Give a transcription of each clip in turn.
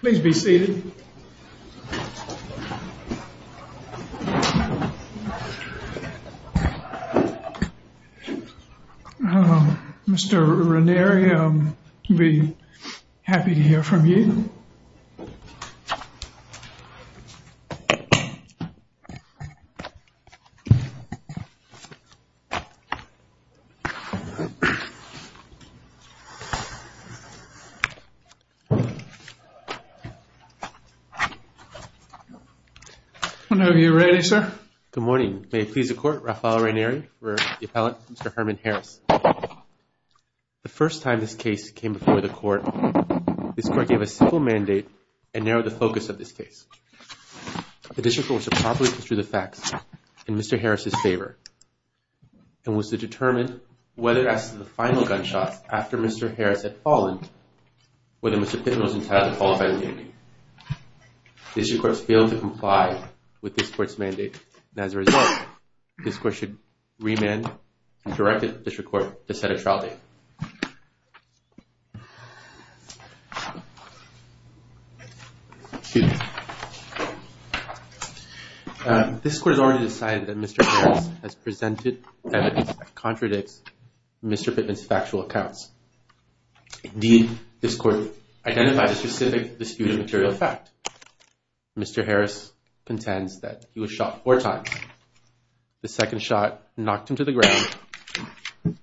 Please be seated. Mr. Ranieri, I'll be happy to hear from you. Whenever you're ready, sir. Good morning. May it please the court, Rafael Ranieri, the appellate, Mr. Herman Harris. The first time this case came before the court, this court gave a simple mandate and narrowed the focus of this case. The district court was to properly construe the facts in Mr. Harris' favor and was to determine whether as to the final gunshots after Mr. Harris had fallen, whether Mr. Pittman was entitled to qualify for the duty. The district court failed to comply with this court's mandate and as a result, this court should remand and direct the district court to set a trial date. Excuse me. This court has already decided that Mr. Harris has presented evidence that contradicts Mr. Pittman's factual accounts. Indeed, this court identified a specific disputed material fact. Mr. Harris contends that he was shot four times. The second shot knocked him to the ground.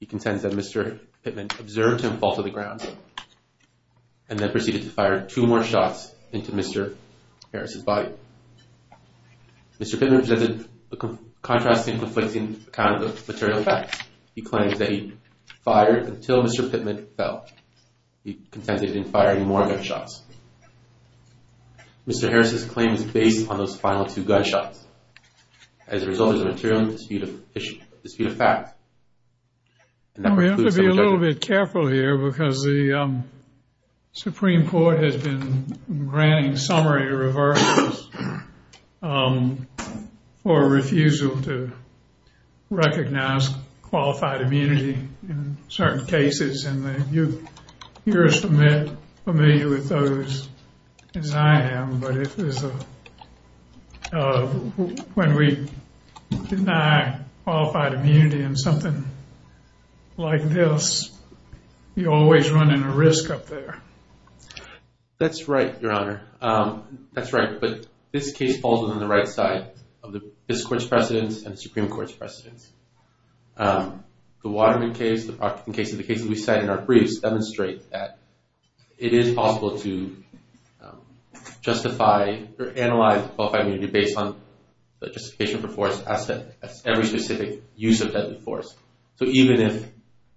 He contends that Mr. Pittman observed him fall to the ground and then proceeded to fire two more shots into Mr. Harris' body. Mr. Pittman presented a contrasting, conflicting account of the material facts. He claims that he fired until Mr. Pittman fell. He contends that he didn't fire any more gunshots. Mr. Harris' claim is based on those final two gunshots as a result of the material disputed fact. We have to be a little bit careful here because the Supreme Court has been granting summary reversals for refusal to recognize qualified immunity in certain cases. And you're as familiar with those as I am. But when we deny qualified immunity in something like this, you're always running a risk up there. That's right, Your Honor. That's right. But this case falls on the right side of this court's precedence and the Supreme Court's precedence. The Waterman case and the cases we cite in our briefs demonstrate that it is possible to justify or analyze qualified immunity based on justification for force as every specific use of deadly force. So even if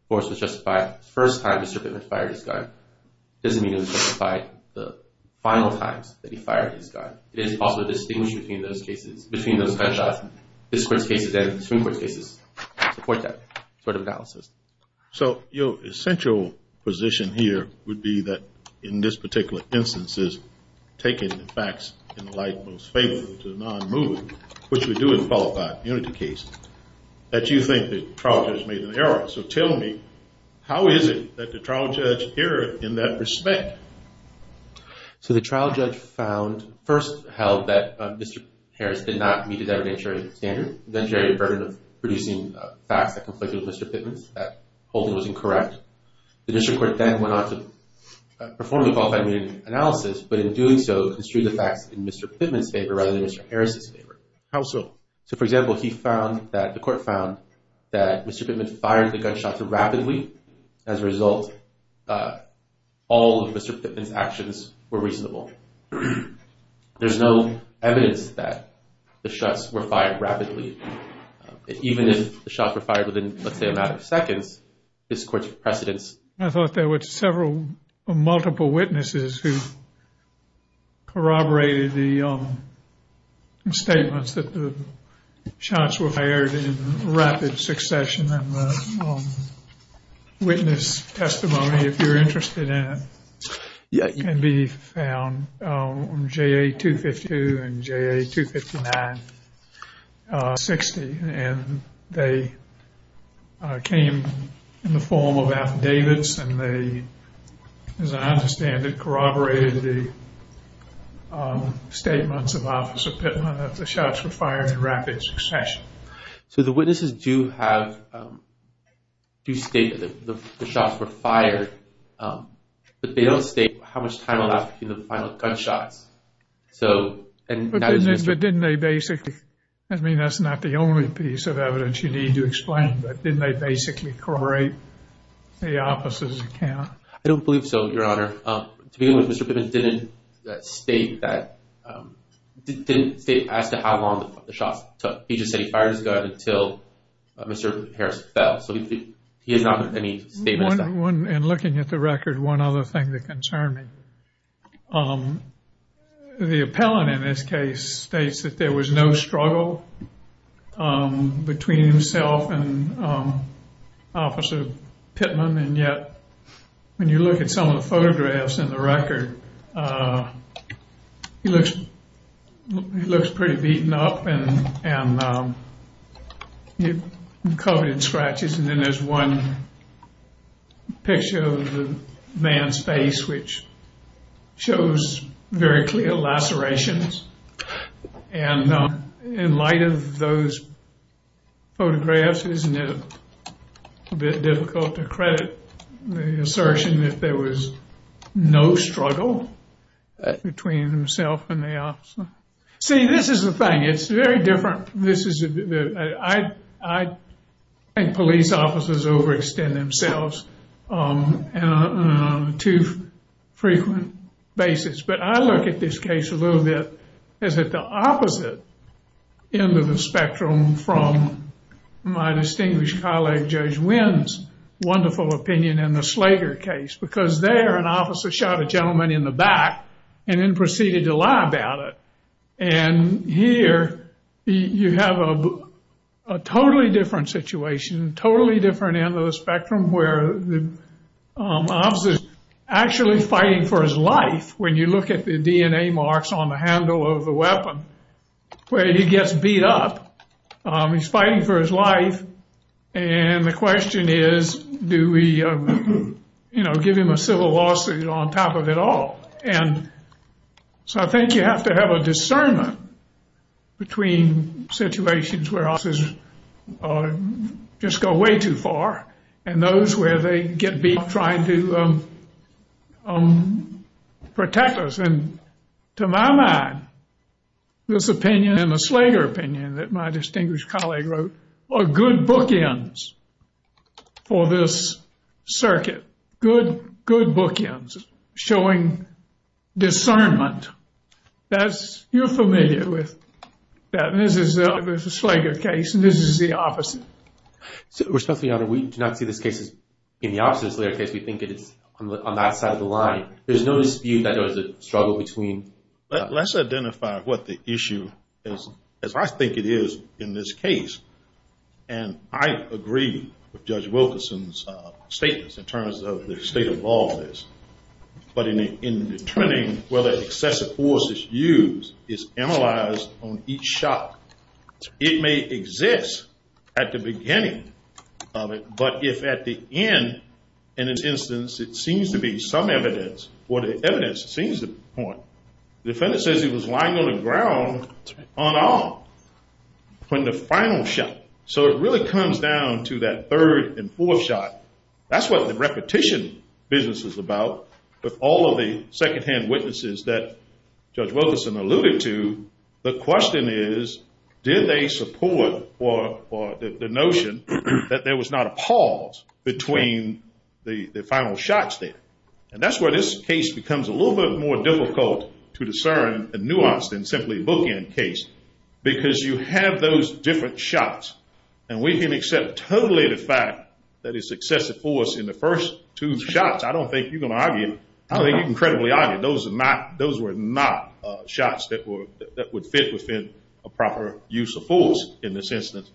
force was justified the first time Mr. Pittman fired his gun, it doesn't mean it was justified the final times that he fired his gun. It is possible to distinguish between those gunshots. This court's cases and the Supreme Court's cases support that sort of analysis. So your essential position here would be that in this particular instance is taking the facts in the light most faithful to the non-movie, which we do in a qualified immunity case, that you think the trial judge made an error. So tell me, how is it that the trial judge erred in that respect? So the trial judge found, first held that Mr. Harris did not meet the evidentiary standard, the evidentiary burden of producing facts that conflicted with Mr. Pittman's, that holding was incorrect. The district court then went on to perform the qualified immunity analysis, but in doing so, construed the facts in Mr. Pittman's favor rather than Mr. Harris's favor. How so? So for example, he found that, the court found that Mr. Pittman fired the gunshots rapidly. As a result, all of Mr. Pittman's actions were reasonable. There's no evidence that the shots were fired rapidly. Even if the shots were fired within, let's say, a matter of seconds, this court's precedence. I thought there were several, multiple witnesses who corroborated the statements that the shots were fired in rapid succession. And the witness testimony, if you're interested in it, can be found on JA-252 and JA-259-60. And they came in the form of affidavits and they, as I understand it, corroborated the statements of Officer Pittman that the shots were fired in rapid succession. So the witnesses do have, do state that the shots were fired, but they don't state how much time was left between the final gunshots. But didn't they basically, I mean, that's not the only piece of evidence you need to explain, but didn't they basically corroborate the opposite account? I don't believe so, Your Honor. To begin with, Mr. Pittman didn't state that, didn't state as to how long the shots took. He just said he fired his gun until Mr. Harris fell. So he has not made any statements. In looking at the record, one other thing that concerned me, the appellant in this case states that there was no struggle between himself and Officer Pittman. And yet, when you look at some of the photographs in the record, he looks pretty beaten up and covered in scratches. And then there's one picture of the man's face, which shows very clear lacerations. And in light of those photographs, isn't it a bit difficult to credit the assertion that there was no struggle between himself and the officer? See, this is the thing. It's very different. I think police officers overextend themselves on a too frequent basis. But I look at this case a little bit as at the opposite end of the spectrum from my distinguished colleague Judge Winn's wonderful opinion in the Slager case. Because there, an officer shot a gentleman in the back and then proceeded to lie about it. And here, you have a totally different situation, totally different end of the spectrum, where the officer is actually fighting for his life. When you look at the DNA marks on the handle of the weapon, where he gets beat up, he's fighting for his life. And the question is, do we give him a civil lawsuit on top of it all? And so I think you have to have a discernment between situations where officers just go way too far and those where they get beat up trying to protect us. And to my mind, this opinion and the Slager opinion that my distinguished colleague wrote are good bookends for this circuit. Good, good bookends showing discernment. That's, you're familiar with that. This is the Slager case and this is the opposite. Your Honor, we do not see this case as being the opposite of the Slager case. We think it is on that side of the line. There's no dispute that there was a struggle between. Let's identify what the issue is, as I think it is in this case. And I agree with Judge Wilkerson's statements in terms of the state of law of this. But in determining whether excessive force is used is analyzed on each shot. It may exist at the beginning of it, but if at the end, in this instance, it seems to be some evidence or the evidence seems to point. The defendant says he was lying on the ground on all when the final shot. So it really comes down to that third and fourth shot. That's what the repetition business is about. With all of the secondhand witnesses that Judge Wilkerson alluded to, the question is, did they support the notion that there was not a pause between the final shots there? And that's where this case becomes a little bit more difficult to discern the nuance than simply bookend case. Because you have those different shots. And we can accept totally the fact that it's excessive force in the first two shots. I don't think you're going to argue. I think you can credibly argue those were not shots that would fit within a proper use of force in this instance.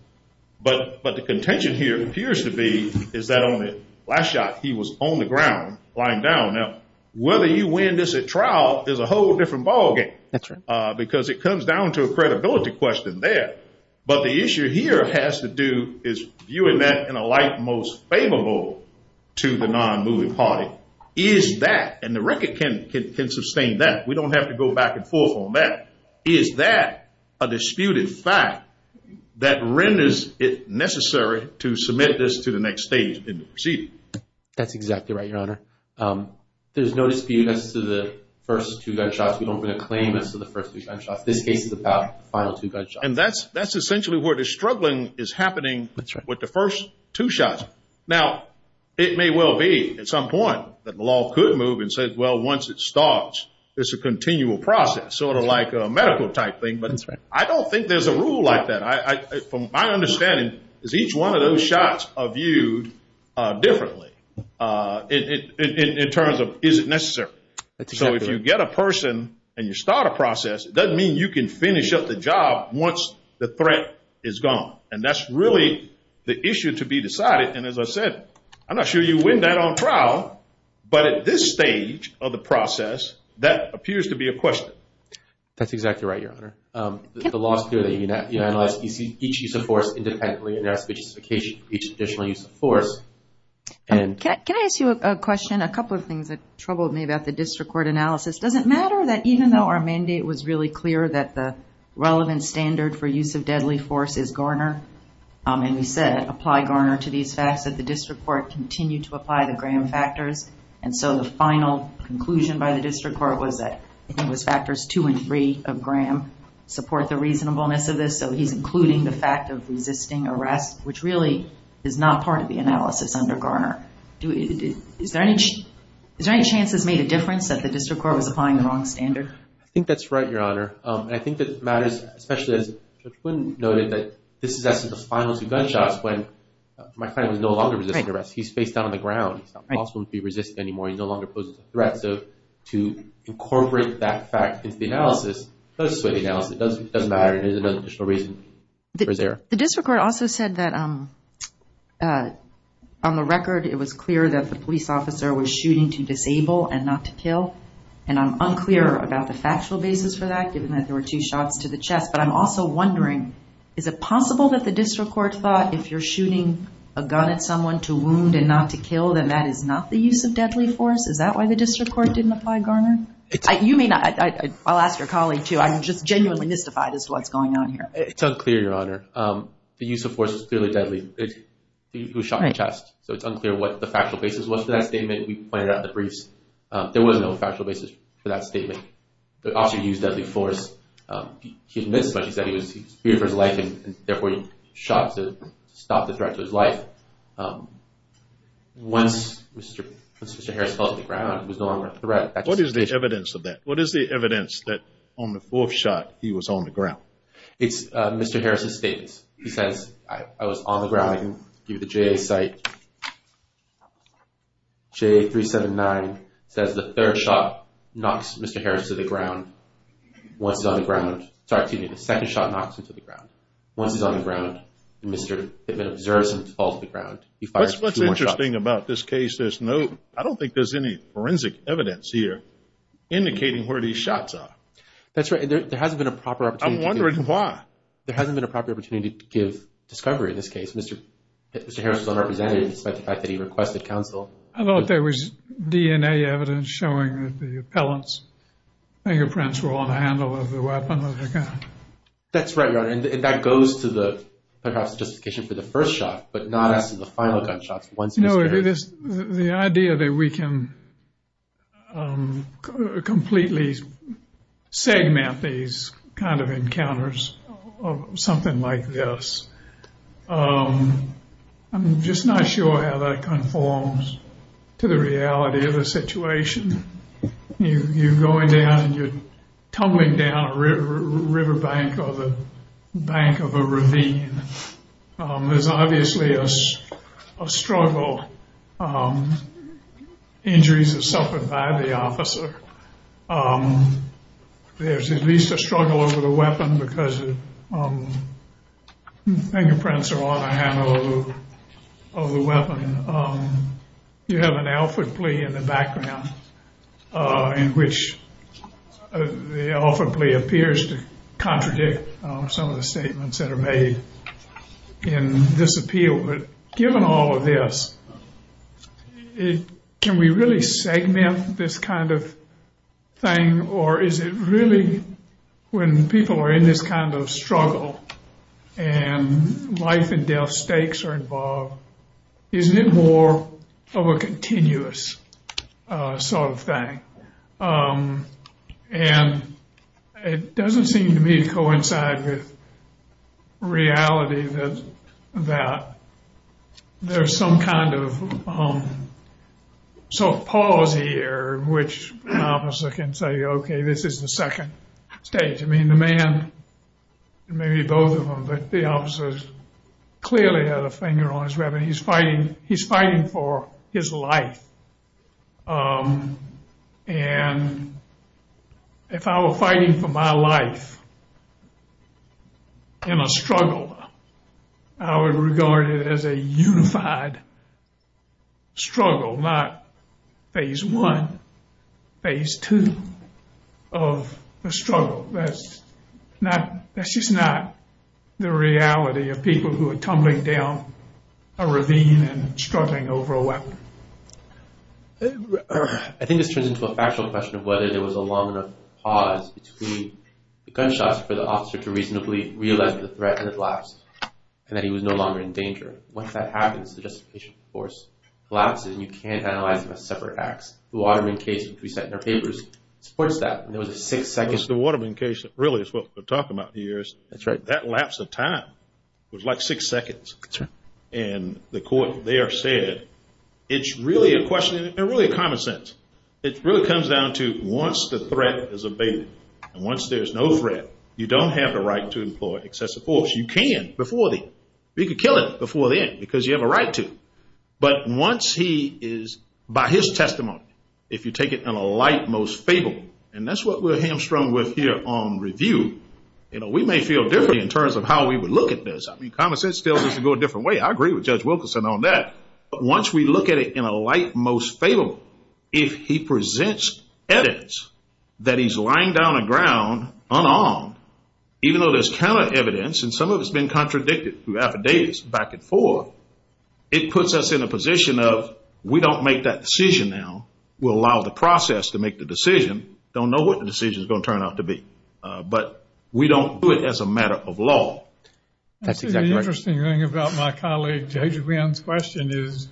But the contention here appears to be is that on the last shot, he was on the ground lying down. Now, whether you win this at trial is a whole different ballgame. Because it comes down to a credibility question there. But the issue here has to do is viewing that in a light most favorable to the non-moving party. Is that, and the record can sustain that. We don't have to go back and forth on that. Is that a disputed fact that renders it necessary to submit this to the next stage in the proceeding? That's exactly right, Your Honor. There's no dispute as to the first two gunshots. We don't want to claim as to the first two gunshots. This case is about the final two gunshots. And that's essentially where the struggling is happening with the first two shots. Now, it may well be at some point that the law could move and say, well, once it starts, it's a continual process. Sort of like a medical type thing. But I don't think there's a rule like that. From my understanding is each one of those shots are viewed differently in terms of is it necessary. So if you get a person and you start a process, it doesn't mean you can finish up the job once the threat is gone. And that's really the issue to be decided. And as I said, I'm not sure you win that on trial. But at this stage of the process, that appears to be a question. That's exactly right, Your Honor. The law is clear that you analyze each use of force independently. And that's the justification for each additional use of force. Can I ask you a question? A couple of things that troubled me about the district court analysis. Does it matter that even though our mandate was really clear that the relevant standard for use of deadly force is Garner, and we said apply Garner to these facts, that the district court continued to apply the Graham factors. And so the final conclusion by the district court was that it was factors two and three of Graham support the reasonableness of this. So he's including the fact of resisting arrest, which really is not part of the analysis under Garner. Is there any chance this made a difference that the district court was applying the wrong standard? I think that's right, Your Honor. And I think that it matters, especially as Judge Quinn noted, that this is as to the finals of gunshots when my client was no longer resisting arrest. He's faced down on the ground. It's not possible to be resisting anymore. He no longer poses a threat. So to incorporate that fact into the analysis does sway the analysis. It doesn't matter. There's no additional reason for his error. The district court also said that on the record it was clear that the police officer was shooting to disable and not to kill. And I'm unclear about the factual basis for that, given that there were two shots to the chest. But I'm also wondering, is it possible that the district court thought if you're shooting a gun at someone to wound and not to kill, then that is not the use of deadly force? Is that why the district court didn't apply Garner? You may not. I'll ask your colleague, too. I'm just genuinely mystified as to what's going on here. It's unclear, Your Honor. The use of force is clearly deadly. He was shot in the chest. So it's unclear what the factual basis was for that statement. We pointed out in the briefs there was no factual basis for that statement. The officer used deadly force. He admits it, but he said he was shooting for his life and, therefore, he shot to stop the threat to his life. Once Mr. Harris fell to the ground, he was no longer a threat. What is the evidence of that? What is the evidence that on the fourth shot, he was on the ground? It's Mr. Harris' statement. He says, I was on the ground. I can give you the J.A. site. J.A. 379 says the third shot knocks Mr. Harris to the ground. Once he's on the ground. Sorry, excuse me. The second shot knocks him to the ground. Once he's on the ground, Mr. Hittman observes him fall to the ground. He fires two more shots. What's interesting about this case, there's no, I don't think there's any forensic evidence here indicating where these shots are. That's right. There hasn't been a proper opportunity. I'm wondering why. There hasn't been a proper opportunity to give discovery in this case. Mr. Harris was unrepresented despite the fact that he requested counsel. I thought there was DNA evidence showing that the appellant's fingerprints were on the handle of the weapon. That's right, Your Honor. And that goes to the perhaps justification for the first shot, but not as to the final gunshots once Mr. Harris. The idea that we can completely segment these kind of encounters of something like this, I'm just not sure how that conforms to the reality of the situation. You're going down and you're tumbling down a river bank or the bank of a ravine. There's obviously a struggle. Injuries are suffered by the officer. There's at least a struggle over the weapon because fingerprints are on the handle of the weapon. You have an Alfred plea in the background in which the Alfred plea appears to contradict some of the statements that are made in this appeal. But given all of this, can we really segment this kind of thing? Or is it really when people are in this kind of struggle and life and death stakes are involved, isn't it more of a continuous sort of thing? And it doesn't seem to me to coincide with reality that there's some kind of pause here in which an officer can say, okay, this is the second stage. I mean, the man, maybe both of them, but the officers clearly had a finger on his weapon. He's fighting for his life. And if I were fighting for my life in a struggle, I would regard it as a unified struggle, not phase one, phase two of the struggle. That's just not the reality of people who are tumbling down a ravine and struggling over a weapon. I think this turns into a factual question of whether there was a long enough pause between the gunshots for the officer to reasonably realize the threat and the collapse, and that he was no longer in danger. Once that happens, the justification for force collapses, and you can't analyze them as separate acts. The Waterman case, which we set in our papers, supports that. And there was a six-second – It was the Waterman case that really is what we're talking about here. That's right. That lapse of time was like six seconds. That's right. And the court there said it's really a question – and really a common sense. It really comes down to once the threat is abated and once there's no threat, you don't have the right to employ excessive force. You can before the end. You could kill him before the end because you have a right to. But once he is – by his testimony, if you take it in a light, most favorable – and that's what we're hamstrung with here on review. We may feel differently in terms of how we would look at this. Common sense tells us to go a different way. I agree with Judge Wilkerson on that. But once we look at it in a light, most favorable, if he presents evidence that he's lying down on the ground unarmed, even though there's counter evidence and some of it's been contradicted through affidavits back and forth, it puts us in a position of we don't make that decision now. We'll allow the process to make the decision. Don't know what the decision is going to turn out to be. But we don't do it as a matter of law. That's exactly right. The interesting thing about my colleague, Judge Wynn's question is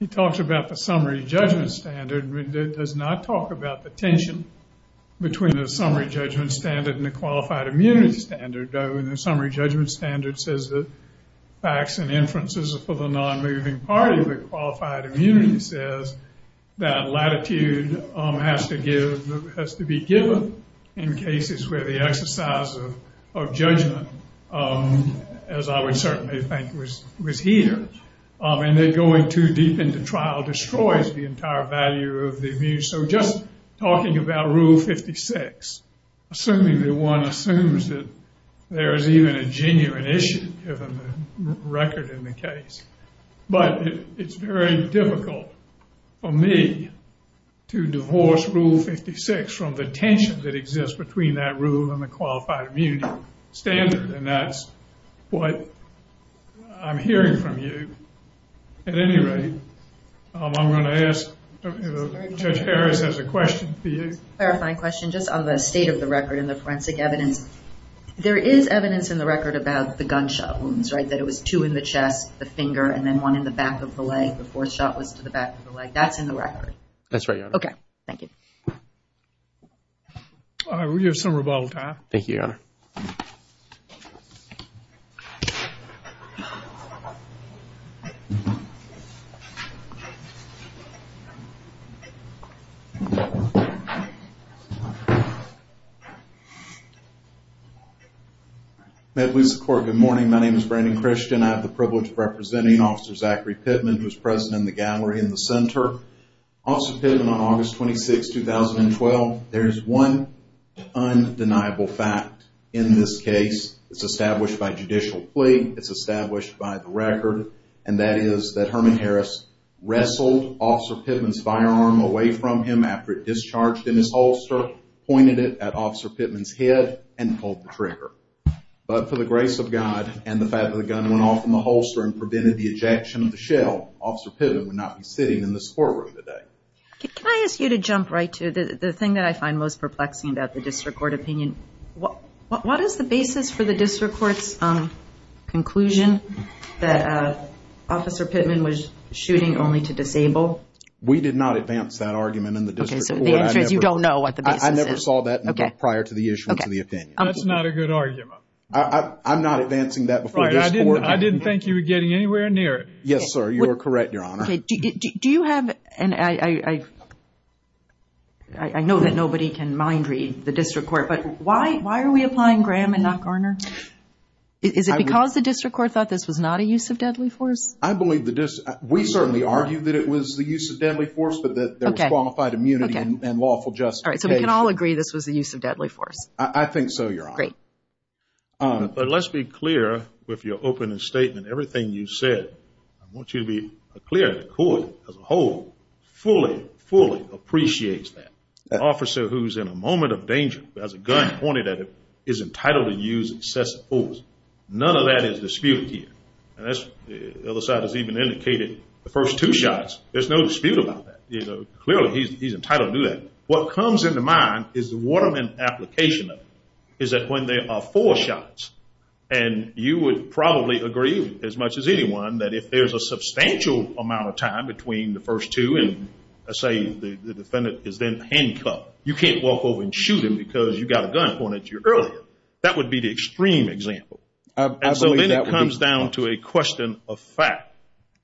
he talks about the summary judgment standard. He does not talk about the tension between the summary judgment standard and the qualified immunity standard. The summary judgment standard says that facts and inferences are for the non-moving party, but qualified immunity says that latitude has to be given in cases where the exercise of judgment, as I would certainly think, was here. And then going too deep into trial destroys the entire value of the view. So just talking about Rule 56, assuming that one assumes that there is even a genuine issue given the record in the case. But it's very difficult for me to divorce Rule 56 from the tension that exists between that rule and the qualified immunity standard. And that's what I'm hearing from you. At any rate, I'm going to ask if Judge Harris has a question for you. A clarifying question just on the state of the record and the forensic evidence. There is evidence in the record about the gunshot wounds, right, that it was two in the chest, the finger, and then one in the back of the leg. The fourth shot was to the back of the leg. That's in the record. That's right, Your Honor. Okay, thank you. We have some rebuttal time. Thank you, Your Honor. Medley's Court, good morning. My name is Brandon Christian. I have the privilege of representing Officer Zachary Pittman, who is present in the gallery in the center. Officer Pittman, on August 26, 2012, there is one undeniable fact in this case. It's established by judicial plea. It's established by the record. And that is that Herman Harris wrestled Officer Pittman's firearm away from him after it discharged in his holster, pointed it at Officer Pittman's head, and pulled the trigger. But for the grace of God and the fact that the gun went off in the holster and prevented the ejection of the shell, Officer Pittman would not be sitting in this courtroom today. Can I ask you to jump right to the thing that I find most perplexing about the district court opinion? What is the basis for the district court's conclusion that Officer Pittman was shooting only to disable? We did not advance that argument in the district court. Okay, so the answer is you don't know what the basis is. I never saw that prior to the issuance of the opinion. That's not a good argument. I'm not advancing that before this court. I didn't think you were getting anywhere near it. Yes, sir, you are correct, Your Honor. Do you have, and I know that nobody can mind read the district court, but why are we applying Graham and not Garner? Is it because the district court thought this was not a use of deadly force? I believe the district, we certainly argue that it was the use of deadly force, but that there was qualified immunity and lawful justification. All right, so we can all agree this was the use of deadly force. I think so, Your Honor. Great. But let's be clear with your opening statement. Everything you said, I want you to be clear, the court as a whole fully, fully appreciates that. An officer who's in a moment of danger, has a gun pointed at him, is entitled to use excessive force. None of that is disputed here. And as the other side has even indicated, the first two shots, there's no dispute about that. Clearly, he's entitled to do that. But what comes into mind is the Waterman application of it, is that when there are four shots, and you would probably agree as much as anyone that if there's a substantial amount of time between the first two and, say, the defendant is then handcuffed, you can't walk over and shoot him because you got a gun pointed at you earlier. That would be the extreme example. And so then it comes down to a question of fact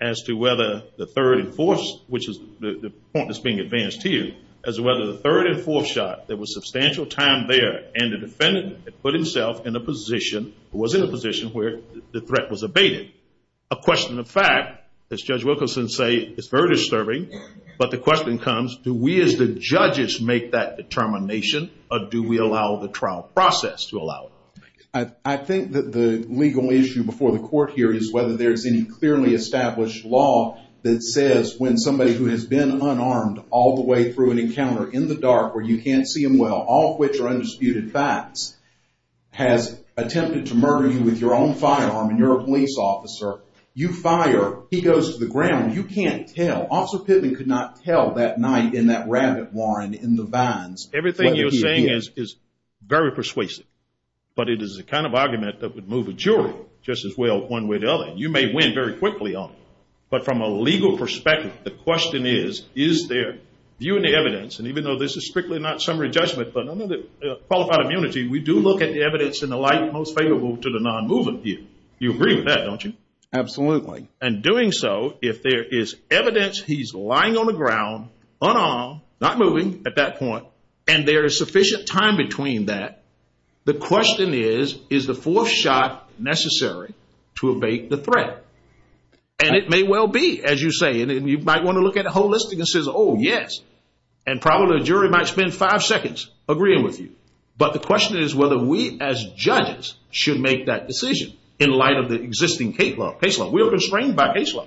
as to whether the third and fourth, which is the point that's being advanced here, as to whether the third and fourth shot, there was substantial time there and the defendant had put himself in a position, or was in a position where the threat was abated. A question of fact, as Judge Wilkinson said, is very disturbing. But the question comes, do we as the judges make that determination, or do we allow the trial process to allow it? I think that the legal issue before the court here is whether there's any clearly established law that says when somebody who has been unarmed all the way through an encounter in the dark where you can't see them well, all of which are undisputed facts, has attempted to murder you with your own firearm and you're a police officer, you fire, he goes to the ground, you can't tell. Officer Pittman could not tell that night in that rabbit warren in the vines. Everything you're saying is very persuasive. But it is the kind of argument that would move a jury just as well one way or the other. You may win. You may win very quickly on it. But from a legal perspective, the question is, is there view in the evidence, and even though this is strictly not summary judgment but qualified immunity, we do look at the evidence in the light most favorable to the non-moving view. You agree with that, don't you? Absolutely. And doing so, if there is evidence he's lying on the ground, unarmed, not moving at that point, and there is sufficient time between that, the question is, is the fourth shot necessary to abate the threat? And it may well be, as you say, and you might want to look at it holistically and say, oh, yes. And probably the jury might spend five seconds agreeing with you. But the question is whether we as judges should make that decision in light of the existing case law. We are constrained by case law.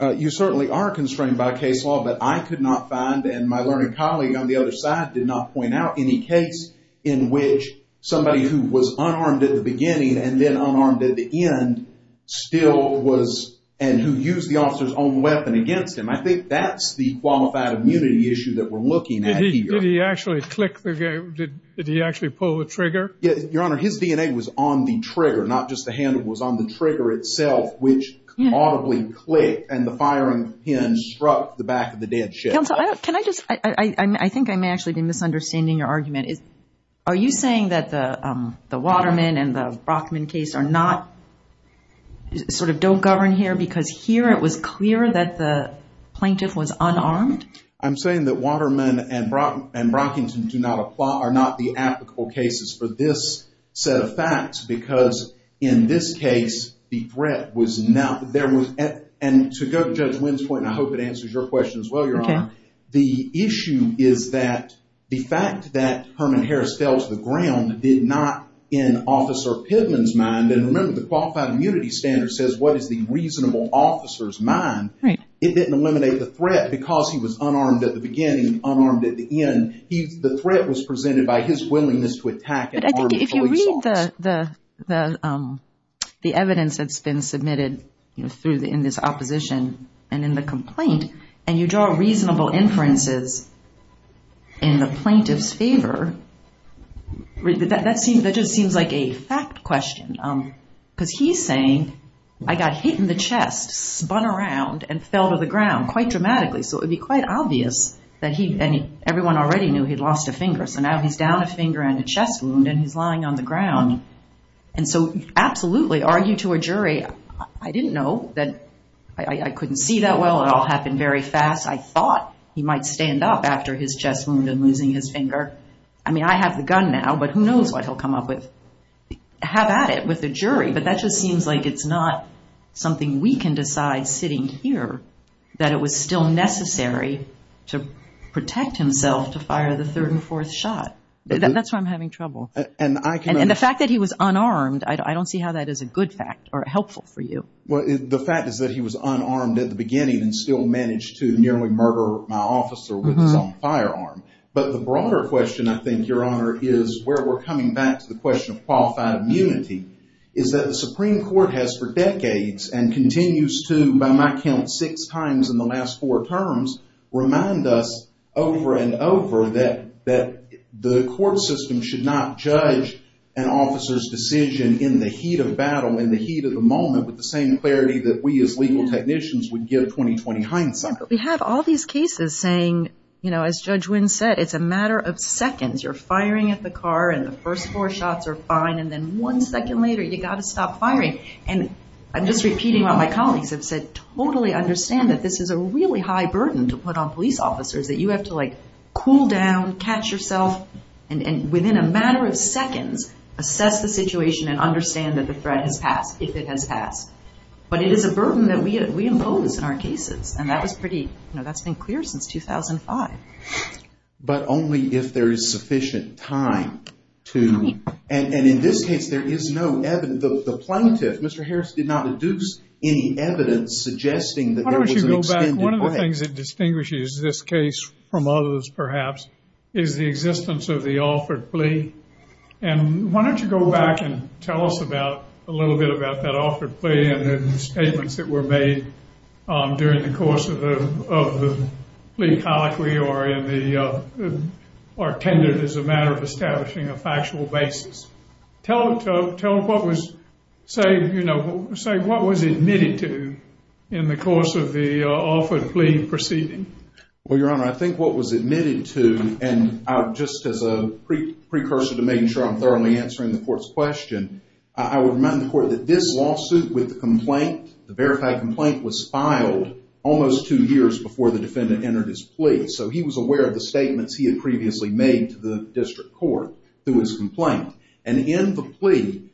You certainly are constrained by case law. But I could not find, and my learned colleague on the other side did not point out, any case in which somebody who was unarmed at the beginning and then unarmed at the end still was and who used the officer's own weapon against him. I think that's the qualified immunity issue that we're looking at here. Did he actually click the – did he actually pull the trigger? Your Honor, his DNA was on the trigger, not just the handle. It was on the trigger itself, which audibly clicked, and the firing pin struck the back of the dead ship. Counsel, can I just – I think I may actually be misunderstanding your argument. Are you saying that the Waterman and the Brockman case are not – sort of don't govern here because here it was clear that the plaintiff was unarmed? I'm saying that Waterman and Brockington do not – are not the applicable cases for this set of facts because in this case the threat was not – and to go to Judge Wynn's point, and I hope it answers your question as well, Your Honor. The issue is that the fact that Herman Harris fell to the ground did not in Officer Pidman's mind, and remember the qualified immunity standard says what is the reasonable officer's mind. It didn't eliminate the threat because he was unarmed at the beginning and unarmed at the end. The threat was presented by his willingness to attack an armed police officer. If you read the evidence that's been submitted in this opposition and in the complaint and you draw reasonable inferences in the plaintiff's favor, that just seems like a fact question because he's saying I got hit in the chest, spun around, and fell to the ground quite dramatically, so it would be quite obvious that he – and everyone already knew he'd lost a finger, so now he's down a finger and a chest wound and he's lying on the ground, and so absolutely argue to a jury. I didn't know that – I couldn't see that well. It all happened very fast. I thought he might stand up after his chest wound and losing his finger. I mean I have the gun now, but who knows what he'll come up with. Have at it with the jury, but that just seems like it's not something we can decide sitting here that it was still necessary to protect himself to fire the third and fourth shot. That's why I'm having trouble. And the fact that he was unarmed, I don't see how that is a good fact or helpful for you. Well, the fact is that he was unarmed at the beginning and still managed to nearly murder my officer with his own firearm. But the broader question, I think, Your Honor, is where we're coming back to the question of qualified immunity is that the Supreme Court has for decades and continues to, by my count, six times in the last four terms remind us over and over that the court system should not judge an officer's decision in the heat of battle, in the heat of the moment, with the same clarity that we as legal technicians would give 20-20 hindsight. But we have all these cases saying, you know, as Judge Wynn said, it's a matter of seconds. You're firing at the car and the first four shots are fine, and then one second later you've got to stop firing. And I'm just repeating what my colleagues have said. Totally understand that this is a really high burden to put on police officers, that you have to, like, cool down, catch yourself, and within a matter of seconds, assess the situation and understand that the threat has passed, if it has passed. But it is a burden that we impose in our cases, and that was pretty, you know, that's been clear since 2005. But only if there is sufficient time to, and in this case, there is no evidence. The plaintiff, Mr. Harris, did not deduce any evidence suggesting that there was an extended way. Why don't you go back? One of the things that distinguishes this case from others, perhaps, is the existence of the offered plea. And why don't you go back and tell us about, a little bit about that offered plea and the statements that were made during the course of the plea colloquy or tended as a matter of establishing a factual basis. Tell them what was, say, you know, say what was admitted to in the course of the offered plea proceeding. Well, Your Honor, I think what was admitted to, and just as a precursor to making sure I'm thoroughly answering the court's question, I would remind the court that this lawsuit with the complaint, the verified complaint, was filed almost two years before the defendant entered his plea. So he was aware of the statements he had previously made to the district court through his complaint. And in the plea,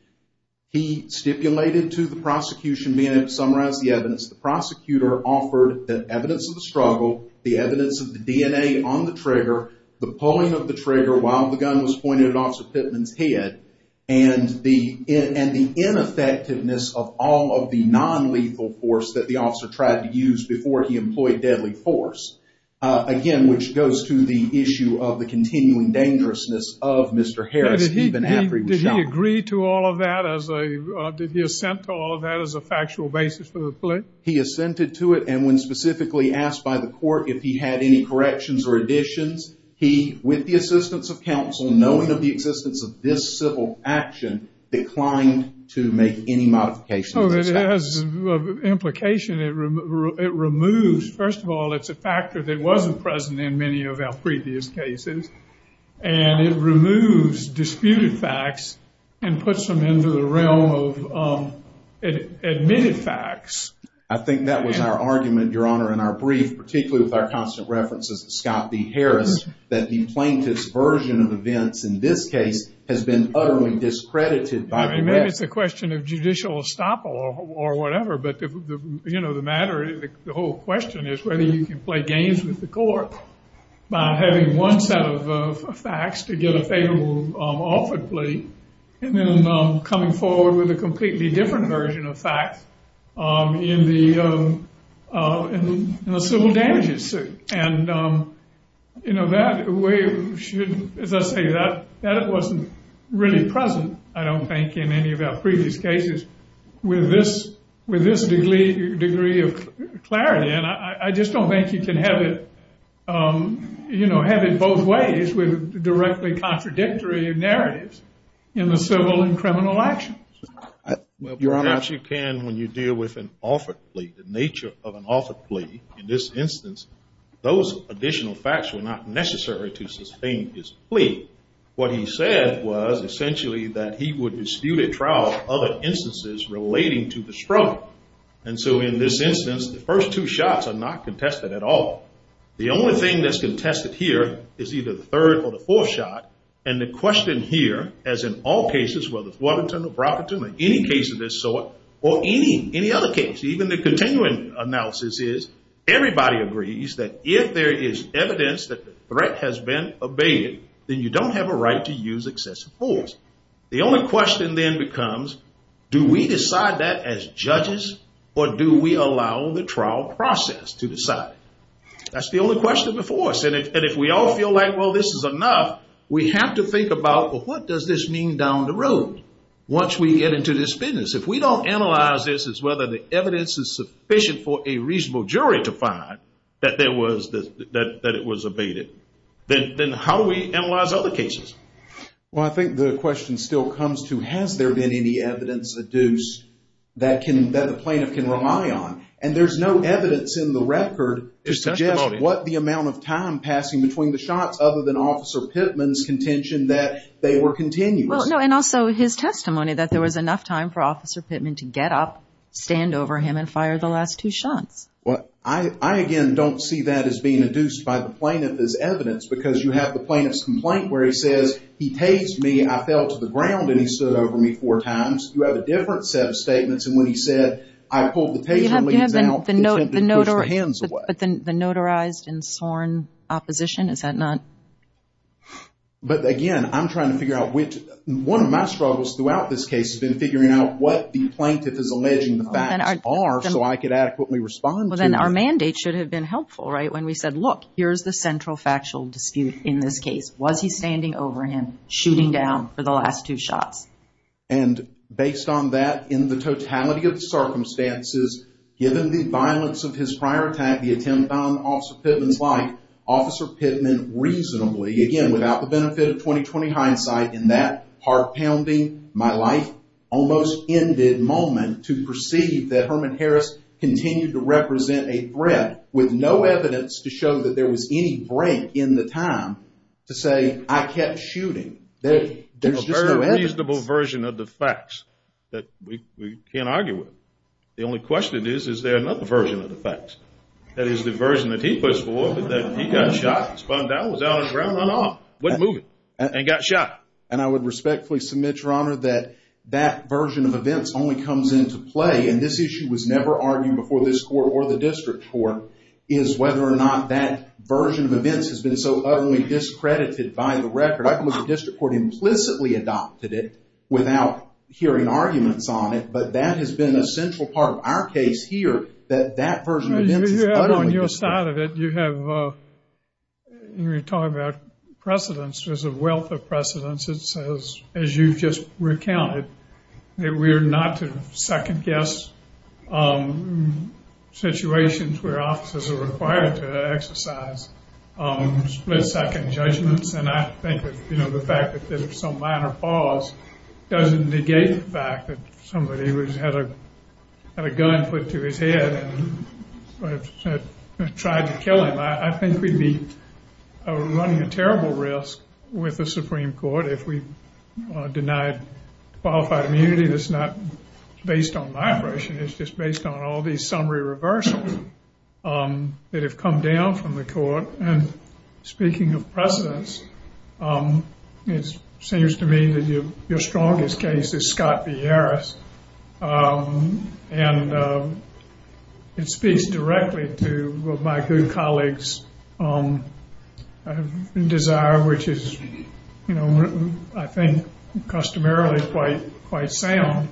he stipulated to the prosecution, being able to summarize the evidence, the prosecutor offered the evidence of the struggle, the evidence of the DNA on the trigger, the pulling of the trigger while the gun was pointed at Officer Pittman's head, and the ineffectiveness of all of the nonlethal force that the officer tried to use before he employed deadly force. Again, which goes to the issue of the continuing dangerousness of Mr. Harris even after he was shot. Did he agree to all of that as a, did he assent to all of that as a factual basis for the plea? He assented to it, and when specifically asked by the court if he had any corrections or additions, he, with the assistance of counsel, knowing of the existence of this civil action, declined to make any modification of those facts. Oh, it has implication. It removes, first of all, it's a factor that wasn't present in many of our previous cases, and it removes disputed facts and puts them into the realm of admitted facts. I think that was our argument, Your Honor, in our brief, particularly with our constant references to Scott B. Harris, that the plaintiff's version of events in this case has been utterly discredited by the record. Maybe it's a question of judicial estoppel or whatever, but, you know, the matter, the whole question is whether you can play games with the court by having one set of facts to get a favorable offered plea and then coming forward with a completely different version of facts in the civil damages suit. And, you know, that way, as I say, that wasn't really present, I don't think, in any of our previous cases with this degree of clarity. And I just don't think you can have it, you know, have it both ways with directly contradictory narratives in the civil and criminal actions. Perhaps you can when you deal with an offered plea, the nature of an offered plea. In this instance, those additional facts were not necessary to sustain his plea. What he said was essentially that he would dispute at trial other instances relating to the struggle. And so in this instance, the first two shots are not contested at all. The only thing that's contested here is either the third or the fourth shot, and the question here, as in all cases, whether it's Waterton or Brockerton or any case of this sort, or any other case, even the continuing analysis is everybody agrees that if there is evidence that the threat has been abated, then you don't have a right to use excessive force. The only question then becomes, do we decide that as judges or do we allow the trial process to decide? That's the only question before us. And if we all feel like, well, this is enough, we have to think about, well, what does this mean down the road once we get into this business? If we don't analyze this as whether the evidence is sufficient for a reasonable jury to find that it was abated, then how do we analyze other cases? Well, I think the question still comes to, has there been any evidence adduced that the plaintiff can rely on? And there's no evidence in the record to suggest what the amount of time passing between the shots, other than Officer Pittman's contention that they were continuous. And also his testimony that there was enough time for Officer Pittman to get up, stand over him, and fire the last two shots. Well, I, again, don't see that as being adduced by the plaintiff as evidence, because you have the plaintiff's complaint where he says, he paged me, I fell to the ground, and he stood over me four times. You have a different set of statements. And when he said, I pulled the paper leaves out, he attempted to push the hands away. But the notarized and sworn opposition, is that not? But, again, I'm trying to figure out which. One of my struggles throughout this case has been figuring out what the plaintiff is alleging the facts are, so I could adequately respond to it. Well, then our mandate should have been helpful, right? When we said, look, here's the central factual dispute in this case. Was he standing over him, shooting down for the last two shots? And based on that, in the totality of the circumstances, given the violence of his prior attack, the attempt on Officer Pittman's life, Officer Pittman reasonably, again, without the benefit of 20-20 hindsight, in that heart-pounding, my-life-almost-ended moment, to perceive that Herman Harris continued to represent a threat, with no evidence to show that there was any break in the time, to say, I kept shooting. There's just no evidence. There's a very reasonable version of the facts that we can't argue with. The only question is, is there another version of the facts? That is, the version that he pushed for, that he got shot, spun down, was out on the ground, run off, wasn't moving, and got shot. And I would respectfully submit, Your Honor, that that version of events only comes into play, and this issue was never argued before this court or the district court, is whether or not that version of events has been so utterly discredited by the record. I think the district court implicitly adopted it without hearing arguments on it, but that has been a central part of our case here, that that version of events is utterly discredited. On your side of it, you have, when you talk about precedence, there's a wealth of precedence. It says, as you just recounted, that we are not to second-guess situations where officers are required to exercise split-second judgments. And I think, you know, the fact that there's some minor pause doesn't negate the fact that somebody had a gun put to his head and tried to kill him. I think we'd be running a terrible risk with the Supreme Court if we denied qualified immunity. That's not based on my version. It's just based on all these summary reversals that have come down from the court. And speaking of precedence, it seems to me that your strongest case is Scott V. Harris, and it speaks directly to my good colleague's desire, which is, you know, I think customarily quite sound,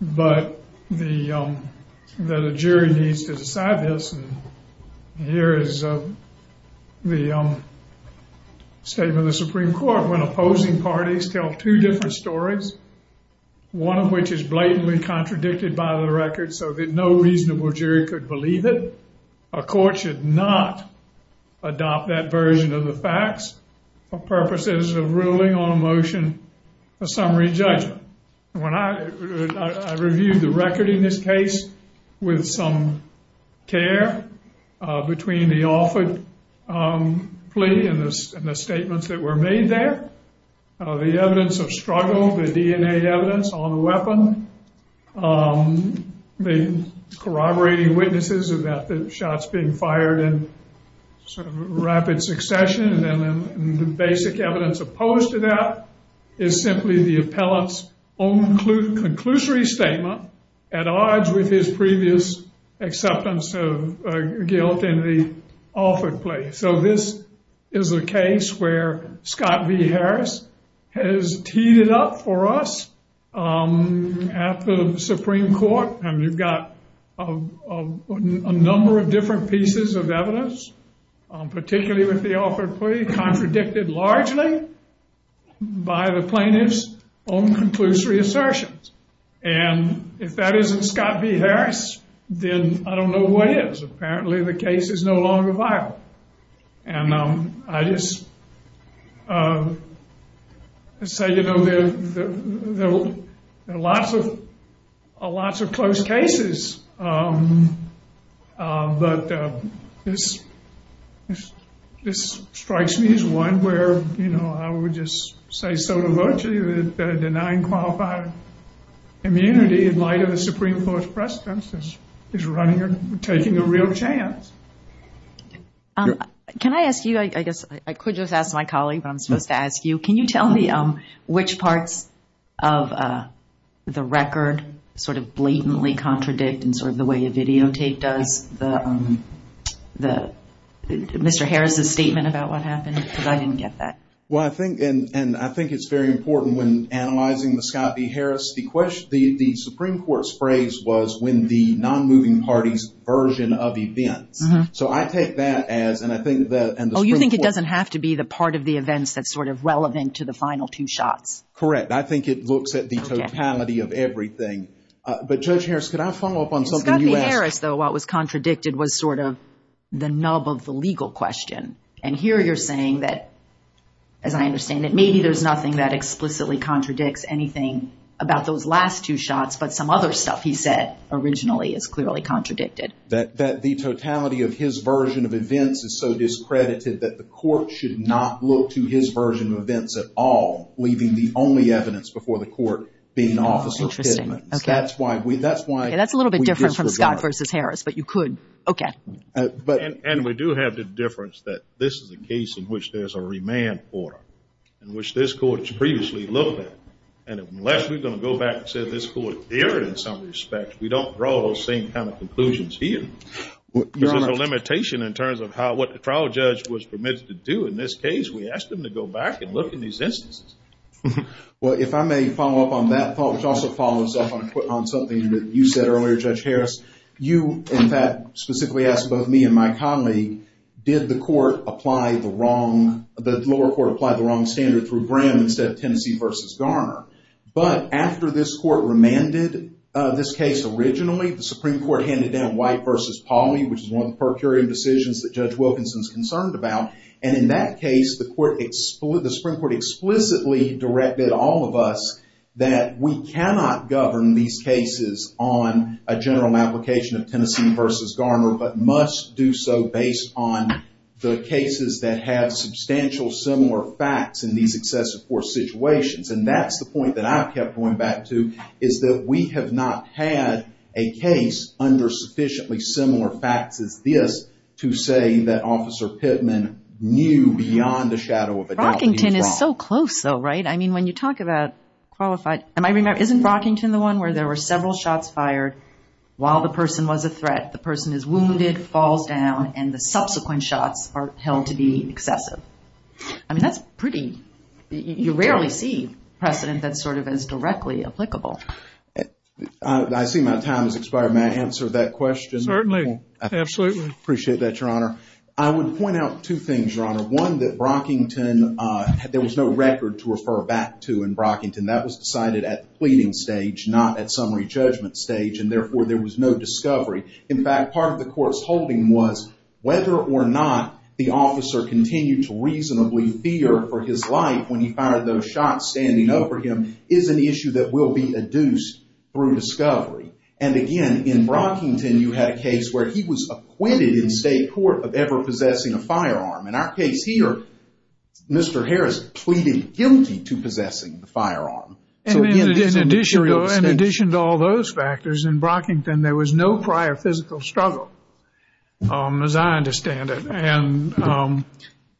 but that a jury needs to decide this. And here is the statement of the Supreme Court. When opposing parties tell two different stories, one of which is blatantly contradicted by the record so that no reasonable jury could believe it, a court should not adopt that version of the facts for purposes of ruling on a motion of summary judgment. When I reviewed the record in this case with some care between the offered plea and the statements that were made there, the evidence of struggle, the DNA evidence on the weapon, the corroborating witnesses about the shots being fired in sort of rapid succession, and the basic evidence opposed to that is simply the appellant's own conclusory statement at odds with his previous acceptance of guilt in the offered plea. So this is a case where Scott V. Harris has teed it up for us at the Supreme Court. And you've got a number of different pieces of evidence, particularly with the offered plea, contradicted largely by the plaintiff's own conclusory assertions. And if that isn't Scott V. Harris, then I don't know what is. Apparently the case is no longer viable. And I just say, you know, there are lots of close cases, but this strikes me as one where, you know, I would just say so to virtue that denying qualified immunity in light of the Supreme Court's precedence is taking a real chance. Can I ask you, I guess I could just ask my colleague, but I'm supposed to ask you, can you tell me which parts of the record sort of blatantly contradict in sort of the way a videotape does the Mr. Harris's statement about what happened? Because I didn't get that. Well, I think, and I think it's very important when analyzing the Scott V. Harris, the Supreme Court's phrase was when the non-moving party's version of events. So I take that as, and I think that. Oh, you think it doesn't have to be the part of the events that's sort of relevant to the final two shots. Correct. I think it looks at the totality of everything. But Judge Harris, could I follow up on something you asked? Scott V. Harris, though, what was contradicted was sort of the nub of the legal question. And here you're saying that, as I understand it, maybe there's nothing that explicitly contradicts anything about those last two shots, but some other stuff he said originally is clearly contradicted. That the totality of his version of events is so discredited that the court should not look to his version of events at all, leaving the only evidence before the court being officer's commitments. Interesting. Okay. That's why we, that's why. Okay, that's a little bit different from Scott V. Harris, but you could. Okay. And we do have the difference that this is a case in which there's a remand order, in which this court has previously looked at. And unless we're going to go back and say this court dared in some respect, we don't draw those same kind of conclusions here. There's a limitation in terms of how, what the trial judge was permitted to do in this case. We asked him to go back and look in these instances. Well, if I may follow up on that thought, which also follows up on something that you said earlier, Judge Harris. You, in fact, specifically asked both me and my colleague, did the court apply the wrong, did the lower court apply the wrong standard through Graham instead of Tennessee versus Garner? But after this court remanded this case originally, the Supreme Court handed down White versus Pauley, which is one of the per curiam decisions that Judge Wilkinson's concerned about. And in that case, the Supreme Court explicitly directed all of us that we cannot govern these cases on a general application of Tennessee versus Garner, but must do so based on the cases that have substantial similar facts in these excessive force situations. And that's the point that I kept going back to, is that we have not had a case under sufficiently similar facts as this to say that Officer Pittman knew beyond a shadow of a doubt that he was wrong. Rockington is so close, though, right? I mean, when you talk about qualified, I might remember, isn't Rockington the one where there were several shots fired while the person was a threat? The person is wounded, falls down, and the subsequent shots are held to be excessive. I mean, that's pretty, you rarely see precedent that's sort of as directly applicable. I see my time has expired. May I answer that question? Certainly. Absolutely. I appreciate that, Your Honor. I would point out two things, Your Honor. One, that Rockington, there was no record to refer back to in Rockington. That was decided at the pleading stage, not at summary judgment stage, and therefore there was no discovery. In fact, part of the court's holding was whether or not the officer continued to reasonably fear for his life when he fired those shots standing over him is an issue that will be adduced through discovery. And again, in Rockington, you had a case where he was acquitted in state court of ever possessing a firearm. In our case here, Mr. Harris pleaded guilty to possessing the firearm. In addition to all those factors, in Rockington, there was no prior physical struggle as I understand it. And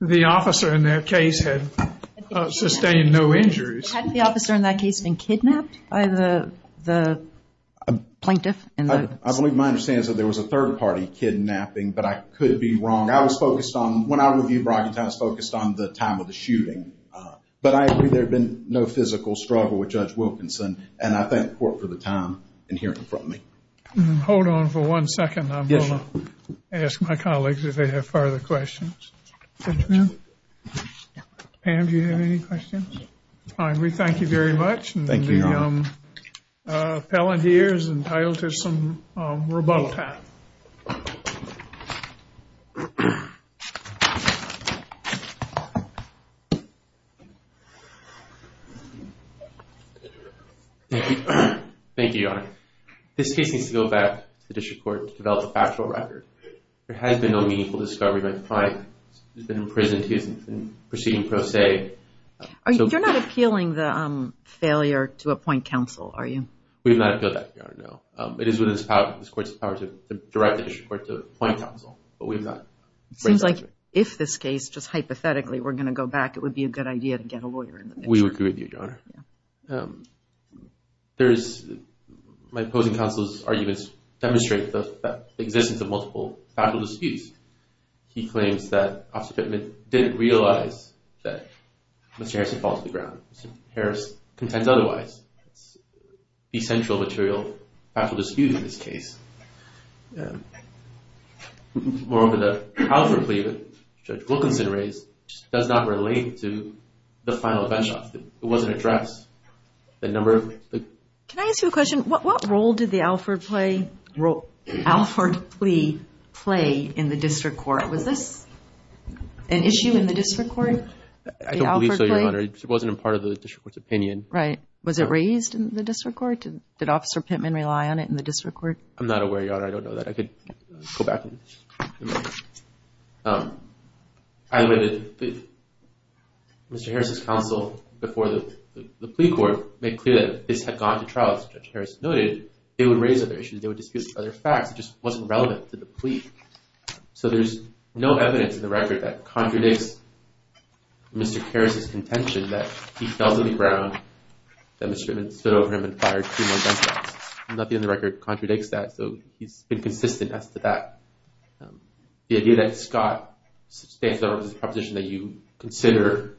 the officer in that case had sustained no injuries. Had the officer in that case been kidnapped by the plaintiff? I believe my understanding is that there was a third party kidnapping, but I could be wrong. I was focused on, when I reviewed Rockington, I was focused on the time of the shooting. But I agree there had been no physical struggle with Judge Wilkinson. And I thank the court for the time in hearing from me. Hold on for one second. I'm going to ask my colleagues if they have further questions. Pam, do you have any questions? We thank you very much. Thank you, Your Honor. And the appellant here is entitled to some rebuttal time. Thank you, Your Honor. This case needs to go back to the district court to develop a factual record. There has been no meaningful discovery by the plaintiff. He's been imprisoned. He is in proceeding pro se. You're not appealing the failure to appoint counsel, are you? We have not appealed that, Your Honor, no. It is within this court's power to direct the district court to appoint counsel, but we have not. It seems like if this case, just hypothetically, were going to go back, it would be a good idea to get a lawyer in the picture. We agree with you, Your Honor. My opposing counsel's arguments demonstrate the existence of multiple factual disputes. He claims that Officer Pittman didn't realize that Mr. Harrison fell to the ground. Mr. Harrison contends otherwise. It's essential material factual dispute in this case. Moreover, the Alford plea that Judge Wilkinson raised does not relate to the final bench-off. It wasn't addressed. Can I ask you a question? What role did the Alford plea play in the district court? Was this an issue in the district court? I don't believe so, Your Honor. It wasn't a part of the district court's opinion. Right. Was it raised in the district court? Did Officer Pittman rely on it in the district court? I'm not aware, Your Honor. I don't know that. I could go back and look. Either way, Mr. Harrison's counsel before the plea court made clear that if this had gone to trial, as Judge Harrison noted, they would raise other issues. They would dispute other facts. It just wasn't relevant to the plea. So there's no evidence in the record that contradicts Mr. Harrison's contention that he fell to the ground, that Mr. Pittman stood over him and fired two more gunshots. Nothing in the record contradicts that, so he's been consistent as to that. The idea that Scott stands over him is a proposition that you consider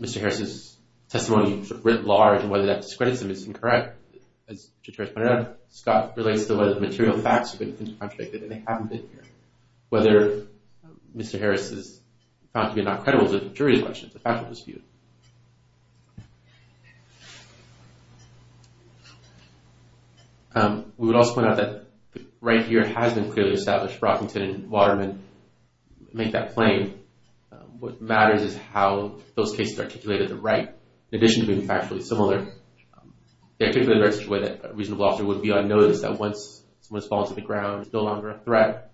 Mr. Harrison's testimony writ large, and whether that discredits him is incorrect. As Judge Harrison pointed out, Scott relates to whether the material facts have been contradicted, and they haven't been here. Whether Mr. Harrison is found to be not credible is a jury's question. It's a factual dispute. We would also point out that right here has been clearly established. Brockington and Waterman make that plain. What matters is how those cases are articulated to the right. In addition to being factually similar, they articulate it in such a way that a reasonable officer would be on notice that once someone has fallen to the ground and is no longer a threat,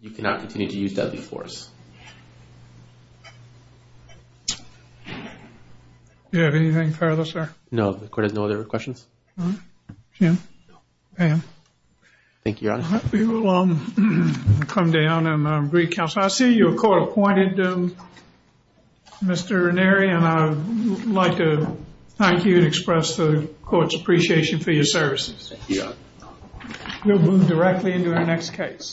you cannot continue to use deadly force. Do you have anything further, sir? No, the court has no other questions. Jim? No. Pam? Thank you, Your Honor. We will come down and brief counsel. I see you're court-appointed, Mr. Ranieri, and I'd like to thank you and express the court's appreciation for your services. Thank you, Your Honor. We'll move directly into our next case.